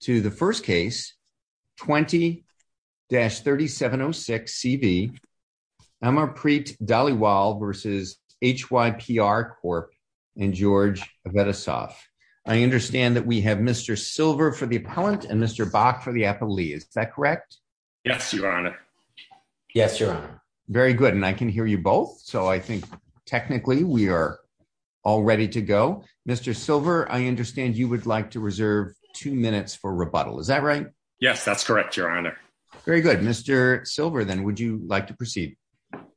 to the first case 20-3706 CV Amarpreet Dhaliwal v. HYPR Corp. and George Avetisoff. I understand that we have Mr. Silver for the appellant and Mr. Bach for the appellee. Is that correct? Yes, your honor. Yes, your honor. Very good. And I can hear you both. So I think technically we are all ready to go. Mr. Silver, I understand you would like to reserve two minutes for rebuttal. Is that right? Yes, that's correct, your honor. Very good. Mr. Silver, then would you like to proceed?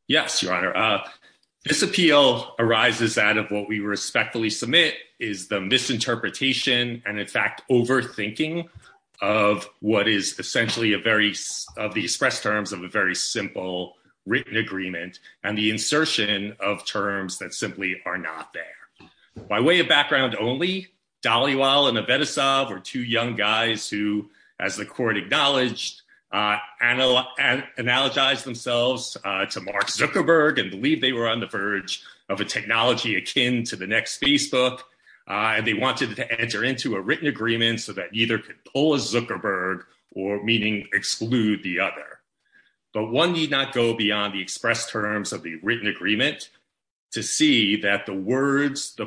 Yes, your honor. This appeal arises out of what we respectfully submit is the misinterpretation and in fact overthinking of what is essentially a very of the express terms of a very simple written agreement and the insertion of terms that simply are not there. By way of background only, Dhaliwal and Avetisoff were two young guys who, as the court acknowledged, analogized themselves to Mark Zuckerberg and believed they were on the verge of a technology akin to the next Facebook. And they wanted to enter into a written agreement so that either could pull a Zuckerberg or meaning exclude the other. But one need not go beyond the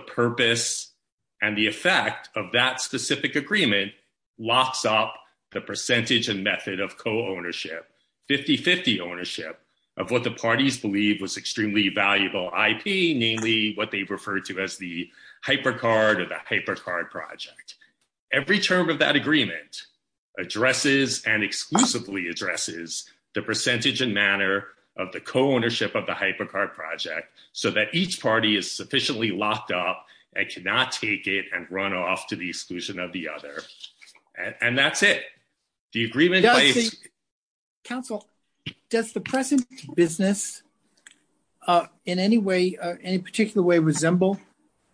purpose and the effect of that specific agreement locks up the percentage and method of co-ownership, 50-50 ownership of what the parties believe was extremely valuable IP, namely what they refer to as the hypercard or the hypercard project. Every term of that agreement addresses and exclusively addresses the percentage and manner of the co-ownership of the hypercard project so that each party is sufficiently locked up and cannot take it and run off to the exclusion of the other. And that's it. The agreement... Counsel, does the present business in any way, any particular way, resemble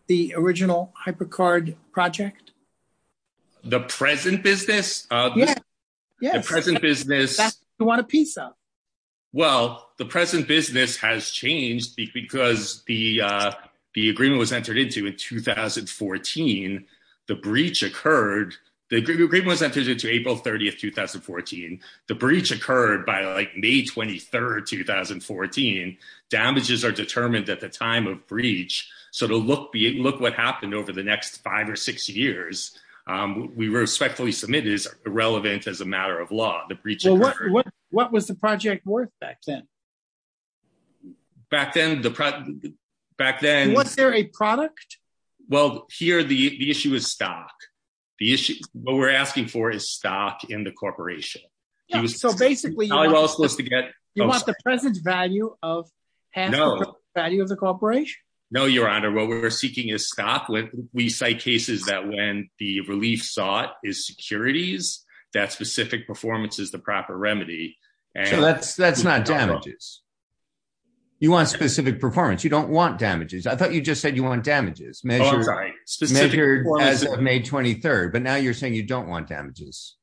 the original hypercard project? The present business? Yes. The present business... That's what we want a piece of. Well, the present business has changed because the agreement was entered into in 2014. The breach occurred, the agreement was entered into April 30th, 2014. The breach occurred by like May 23rd, 2014. Damages are determined at the time of breach. So to look what happened over the next five or six years, we respectfully submit is irrelevant as a matter of law. Well, what was the project worth back then? Back then... Was there a product? Well, here the issue is stock. What we're asking for is stock in the corporation. So basically, you want the present value of the corporation? No, Your Honor. What we're seeking is stock. We cite cases that when the relief sought is the proper remedy. That's not damages. You want specific performance. You don't want damages. I thought you just said you want damages measured as of May 23rd, but now you're saying you don't want damages.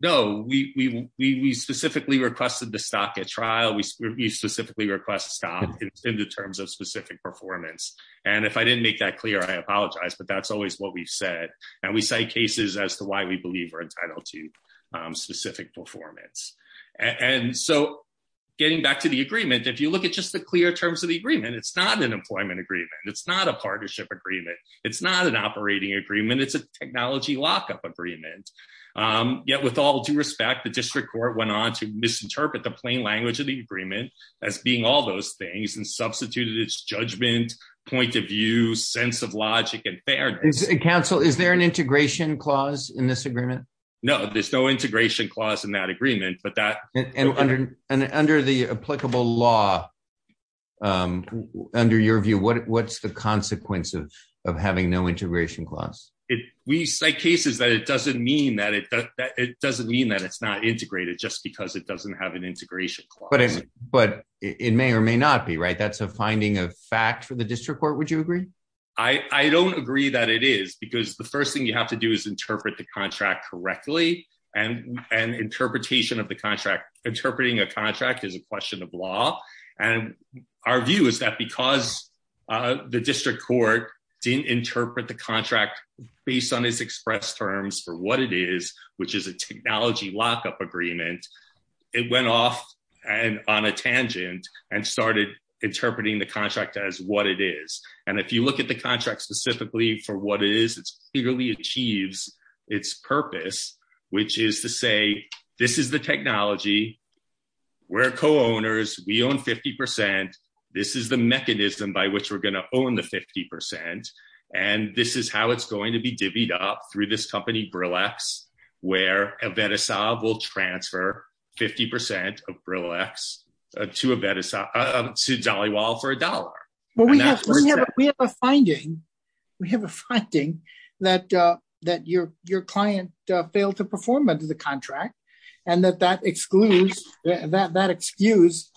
No, we specifically requested the stock at trial. We specifically request stock in the terms of specific performance. And if I didn't make that clear, I apologize, but that's always what we've and we cite cases as to why we believe we're entitled to specific performance. And so getting back to the agreement, if you look at just the clear terms of the agreement, it's not an employment agreement. It's not a partnership agreement. It's not an operating agreement. It's a technology lockup agreement. Yet with all due respect, the district court went on to misinterpret the plain language of the agreement as being all those things and substituted its judgment, point of view, sense of logic and fairness. Counsel, is there an integration clause in this agreement? No, there's no integration clause in that agreement, but that under the applicable law, under your view, what's the consequence of having no integration clause? We cite cases that it doesn't mean that it doesn't mean that it's not integrated just because it doesn't have an integration. But it may or may not be right. That's a fact for the district court. Would you agree? I don't agree that it is because the first thing you have to do is interpret the contract correctly and an interpretation of the contract. Interpreting a contract is a question of law. And our view is that because the district court didn't interpret the contract based on its express terms for what it is, which is a technology lockup agreement, it went off on a tangent and started interpreting the contract as what it is. And if you look at the contract specifically for what it is, it clearly achieves its purpose, which is to say, this is the technology. We're co-owners. We own 50%. This is the mechanism by which we're going to own the 50%. And this is how it's going to be divvied up through this company, Brillex, where Avetisov will transfer 50% of Brillex to Avetisov to Jollywell for a dollar. Well, we have a finding. We have a finding that your client failed to perform under the contract and that that excludes that excuse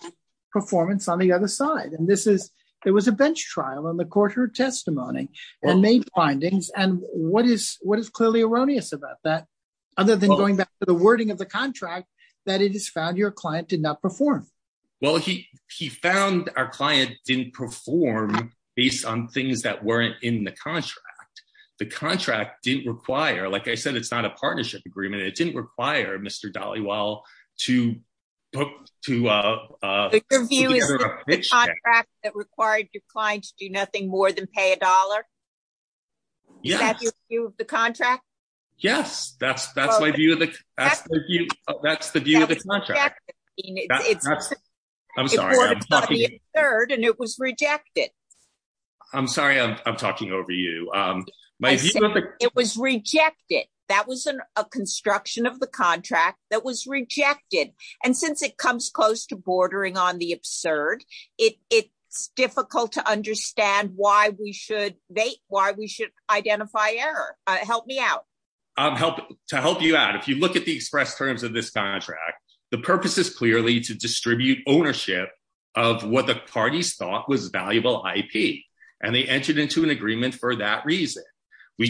performance on the other side. And this is, there was a bench about that, other than going back to the wording of the contract that it is found your client did not perform. Well, he, he found our client didn't perform based on things that weren't in the contract. The contract didn't require, like I said, it's not a partnership agreement. It didn't require Mr. Dollywell to book, to, uh, uh, that required your clients do nothing more than pay a Yes. That's, that's my view of the, that's the view of the contract. I'm sorry. I'm talking over you. Um, it was rejected. That was a construction of the contract that was rejected. And since it comes close to bordering on the absurd, it, it's difficult to help, to help you out. If you look at the express terms of this contract, the purpose is clearly to distribute ownership of what the parties thought was valuable IP, and they entered into an agreement for that reason.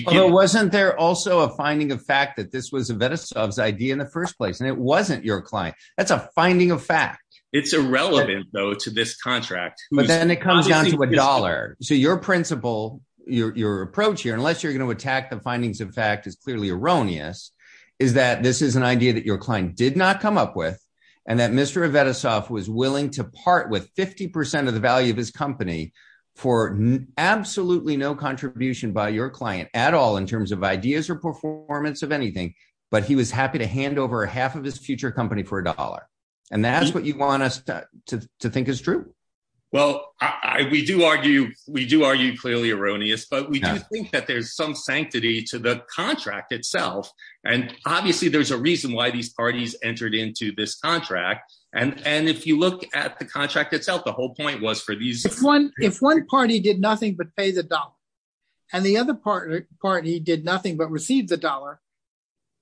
Well, wasn't there also a finding of fact that this was a Venisov's idea in the first place, and it wasn't your client. That's a finding of fact. It's irrelevant though, to this contract. But then it comes down to a dollar. So your principle, your, your approach here, unless you're going to attack the findings of fact is clearly erroneous, is that this is an idea that your client did not come up with. And that Mr. Venisov was willing to part with 50% of the value of his company for absolutely no contribution by your client at all in terms of ideas or performance of anything. But he was happy to hand over half of his future company for a dollar. And that's what you want us to think is true. Well, I, we do argue, we do argue clearly erroneous, but we do think that there's some sanctity to the contract itself. And obviously, there's a reason why these parties entered into this contract. And, and if you look at the contract itself, the whole point was for these... If one party did nothing but pay the dollar, and the other party did nothing but received the dollar,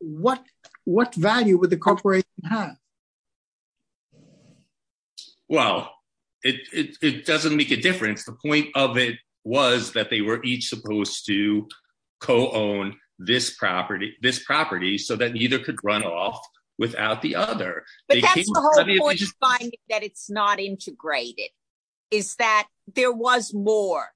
what, what value would the corporation have? Well, it, it doesn't make a difference. The point of it was that they were each supposed to co-own this property, this property so that neither could run off without the other. But that's the whole point of finding that it's not integrated, is that there was more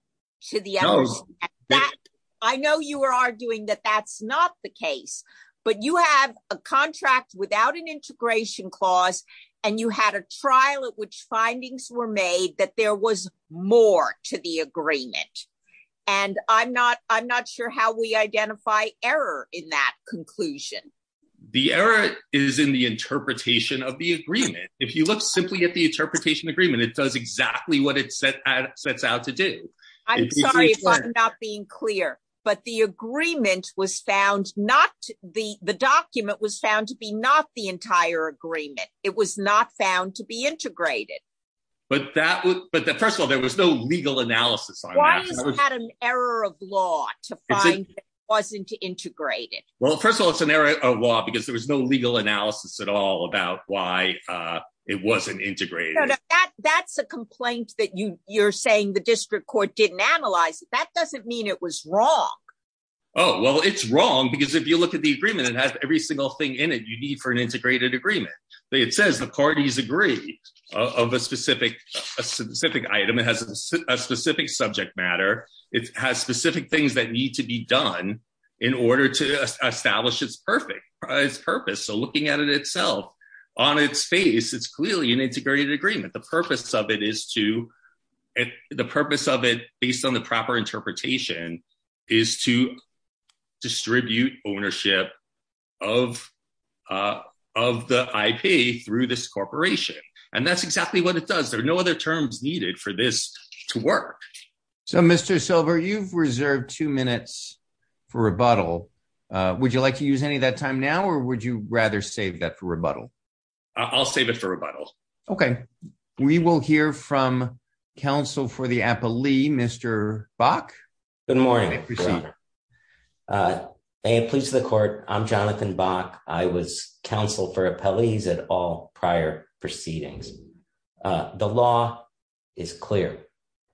to the outcome. No. And that, I know you were arguing that that's not the case, but you have a contract without an integration clause, and you had a trial at which findings were made that there was more to the agreement. And I'm not, I'm not sure how we identify error in that conclusion. The error is in the interpretation of the agreement. If you look simply at the interpretation agreement, it does exactly what it sets out to do. I'm sorry if I'm not being clear, but the agreement was found not, the, the document was found to be not the entire agreement. It was not found to be integrated. But that would, but first of all, there was no legal analysis on that. Why is it an error of law to find that it wasn't integrated? Well, first of all, it's an error of law because there was no legal analysis at all about why it wasn't integrated. That's a complaint that you, you're saying the district court didn't analyze it. That doesn't mean it was wrong. Oh, well, it's wrong because if you look at the agreement, it has every single thing in it you need for an integrated agreement. It says the parties agree of a specific, a specific item. It has a specific subject matter. It has specific things that need to be done in order to establish it's perfect, it's purpose. So looking at it itself on its face, it's clearly an integrated agreement. The purpose of it is to, the purpose of it based on the proper interpretation is to distribute ownership of, of the IP through this corporation. And that's exactly what it does. There are no other terms needed for this to work. So Mr. Silver, you've reserved two minutes for rebuttal. Would you like to use any of that time now, or would you rather save that for rebuttal? I'll save it for rebuttal. Okay. We will hear from counsel for the appellee, Mr. Bach. Good morning. May it please the court. I'm Jonathan Bach. I was counsel for appellees at all prior proceedings. The law is clear.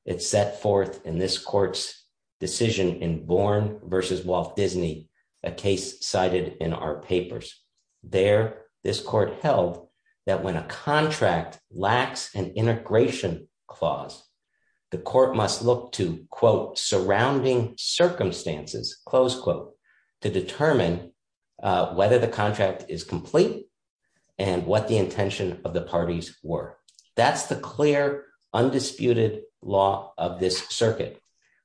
It's set forth in this court's decision in Bourne versus Walt Disney, a case cited in our papers. There, this court held that when a contract lacks an integration clause, the court must look to, quote, surrounding circumstances, close quote, to determine whether the contract is complete and what the intention of the parties were. That's the clear, undisputed law of this circuit.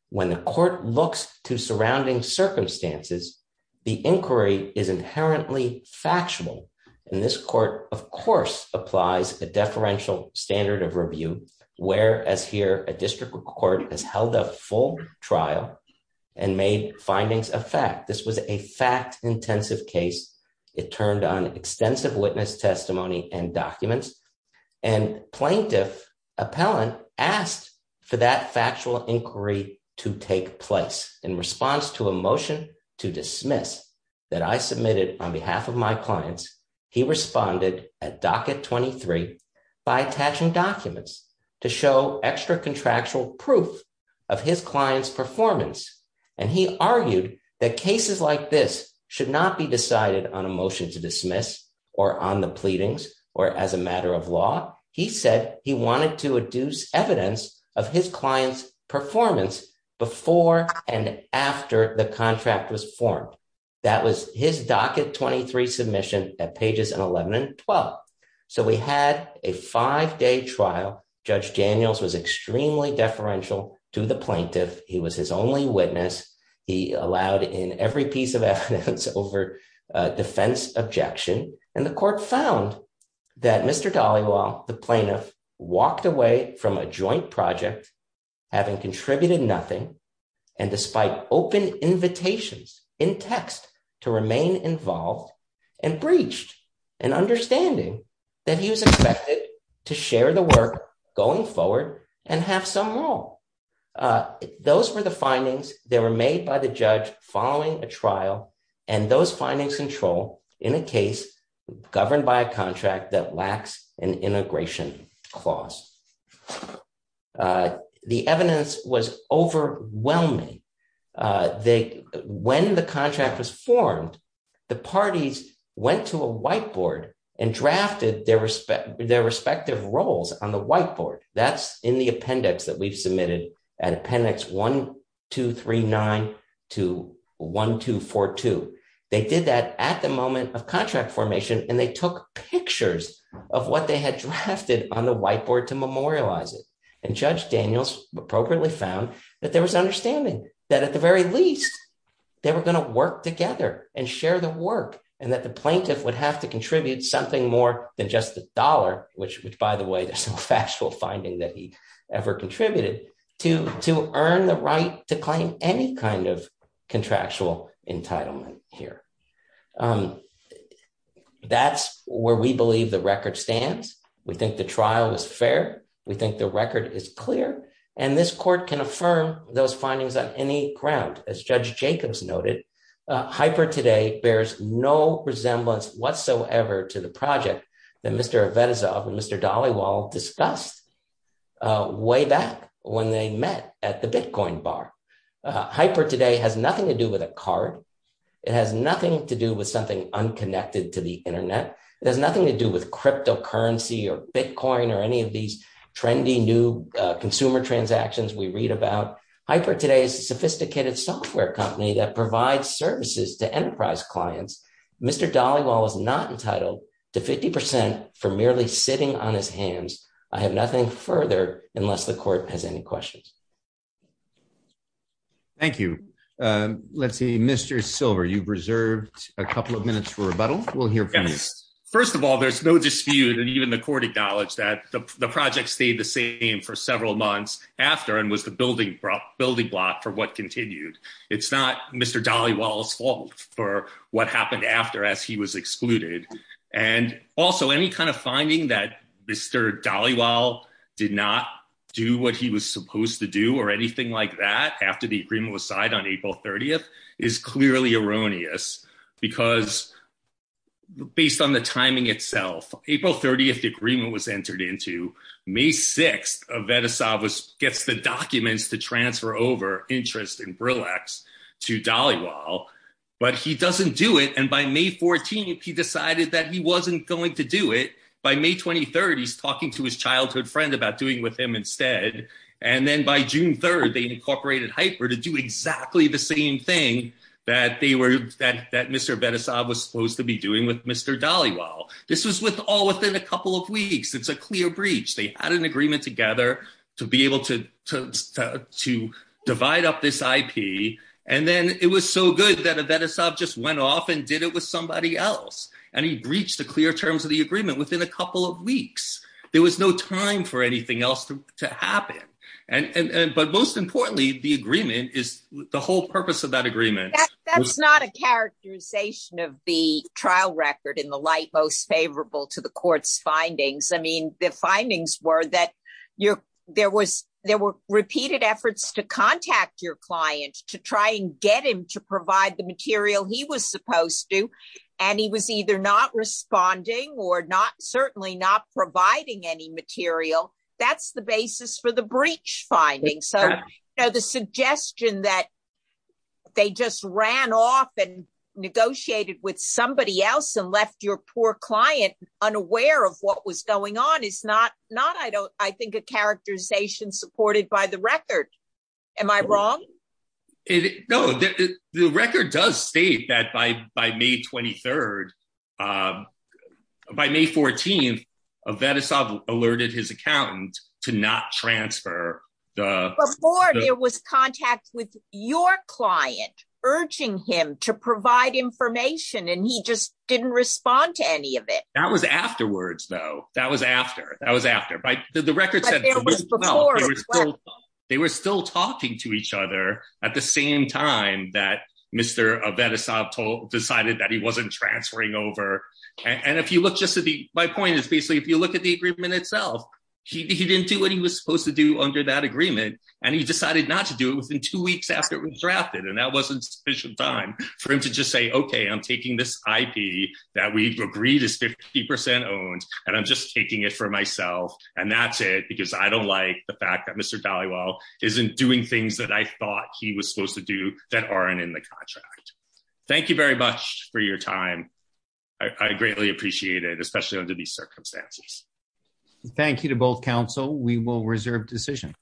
When the court looks to surrounding circumstances, the inquiry is inherently factual. And this court, of course, applies a deferential standard of review, whereas here a district court has held a full trial and made findings of fact. This was a fact intensive case. It turned on extensive witness testimony and documents. And plaintiff appellant asked for that factual inquiry to take place. In response to a motion to dismiss that I submitted on behalf of my clients, he responded at docket 23 by attaching documents to show extra contractual proof of his client's performance. And he argued that cases like this should not be decided on a motion to dismiss or on the pleadings or as a matter of law. He said he wanted to adduce evidence of his client's performance before and after the contract was formed. That was his docket 23 submission at pages 11 and 12. So we had a five day trial. Judge Daniels was extremely deferential to the plaintiff. He was his only witness. He allowed in every piece of evidence over defense objection. And the court found that Mr. Dhaliwal, the plaintiff, walked away from a joint project having contributed nothing. And despite open invitations in text to remain involved and breached an understanding that he was expected to share the work going forward and have some role. Those were the findings. They were made by the judge following a trial and those findings control in a case governed by a contract that lacks an integration clause. The evidence was overwhelming. When the contract was formed, the parties went to a whiteboard and drafted their respective roles on the whiteboard. That's in the appendix that we've submitted at appendix 1239 to 1242. They did that at the moment of contract formation, and they took pictures of what they had drafted on the whiteboard to memorialize it. And Judge Daniels appropriately found that there was understanding that at the very least, they were going to work together and share the work. And that the plaintiff would have to contribute something more than just the dollar, which, by the way, there's no factual finding that he ever contributed, to earn the right to claim any kind of contractual entitlement here. That's where we believe the record stands. We think the trial was fair. We think the record is clear. And this court can affirm those findings on any ground. As Judge Jacobs noted, HyperToday bears no resemblance whatsoever to the project that Mr. Avetisov and Mr. Dhaliwal discussed way back when they met at the Bitcoin bar. HyperToday has nothing to do with a card. It has nothing to do with something unconnected to the internet. It has nothing to do with cryptocurrency or Bitcoin or any of these trendy new consumer transactions we read about. HyperToday is a sophisticated software company that provides services to enterprise clients. Mr. Dhaliwal is not entitled to 50% for merely sitting on his hands. I have nothing further unless the court has any questions. Thank you. Let's see, Mr. Silver, you've reserved a couple of minutes for rebuttal. We'll hear from you. First of all, there's no dispute and even the court acknowledged that the project stayed the same for several months after and was the building block for what continued. It's not Mr. Dhaliwal's fault for what happened after as he was excluded. And also any kind of finding that Mr. Dhaliwal did not do what he was supposed to do or anything like that after the agreement was signed on April 30th is clearly erroneous. Because based on the timing itself, April 30th, the agreement was entered into. May 6th, Vedasava gets the documents to transfer over interest in Brillex to Dhaliwal. But he doesn't do it. And by May 14th, he decided that he wasn't going to do it. By May 23rd, he's talking to his childhood friend about doing with him instead. And then by June 3rd, they incorporated Hyper to do exactly the same thing that Mr. Vedasava was supposed to be doing with Mr. Dhaliwal. This was all within a couple of weeks. It's a clear breach. They had an agreement together to be able to divide up this IP. And then it was so good that Vedasava just went off and did it with somebody else. And he breached the clear terms of the agreement within a couple of weeks. There was no time for anything else to happen. But most importantly, the agreement is the whole purpose of that agreement. That's not a characterization of the trial record in the light most favorable to the court's findings. I mean, the findings were that there were repeated efforts to contact your client to try and get him to provide the material he was supposed to. And he was either not responding or certainly not providing any material. That's the basis for the breach finding. So the suggestion that they just ran off and negotiated with somebody else and left your poor client unaware of what was going on is not, I think, a characterization supported by the record. Am I wrong? No, the record does state that by May 23rd, by May 14th, Vedasava alerted his accountant to not transfer the... Before there was contact with your client urging him to provide information, and he just didn't respond to any of it. That was afterwards, though. That was after. That was after. They were still talking to each other at the same time that Mr. Vedasava decided that he wasn't transferring over. And if you look just at the... My point is basically, if you look at the agreement itself, he didn't do what he was supposed to do under that agreement, and he decided not to do it within two weeks after it was drafted. And that wasn't sufficient time for him to just say, OK, I'm taking this IP that we've agreed is 50% owned, and I'm just taking it for myself. And that's it, because I don't like the fact that Mr. Dhaliwal isn't doing things that I thought he was supposed to do that aren't in the contract. Thank you very much for your time. I greatly appreciate it, especially under these circumstances. Thank you to both counsel. We will reserve decision.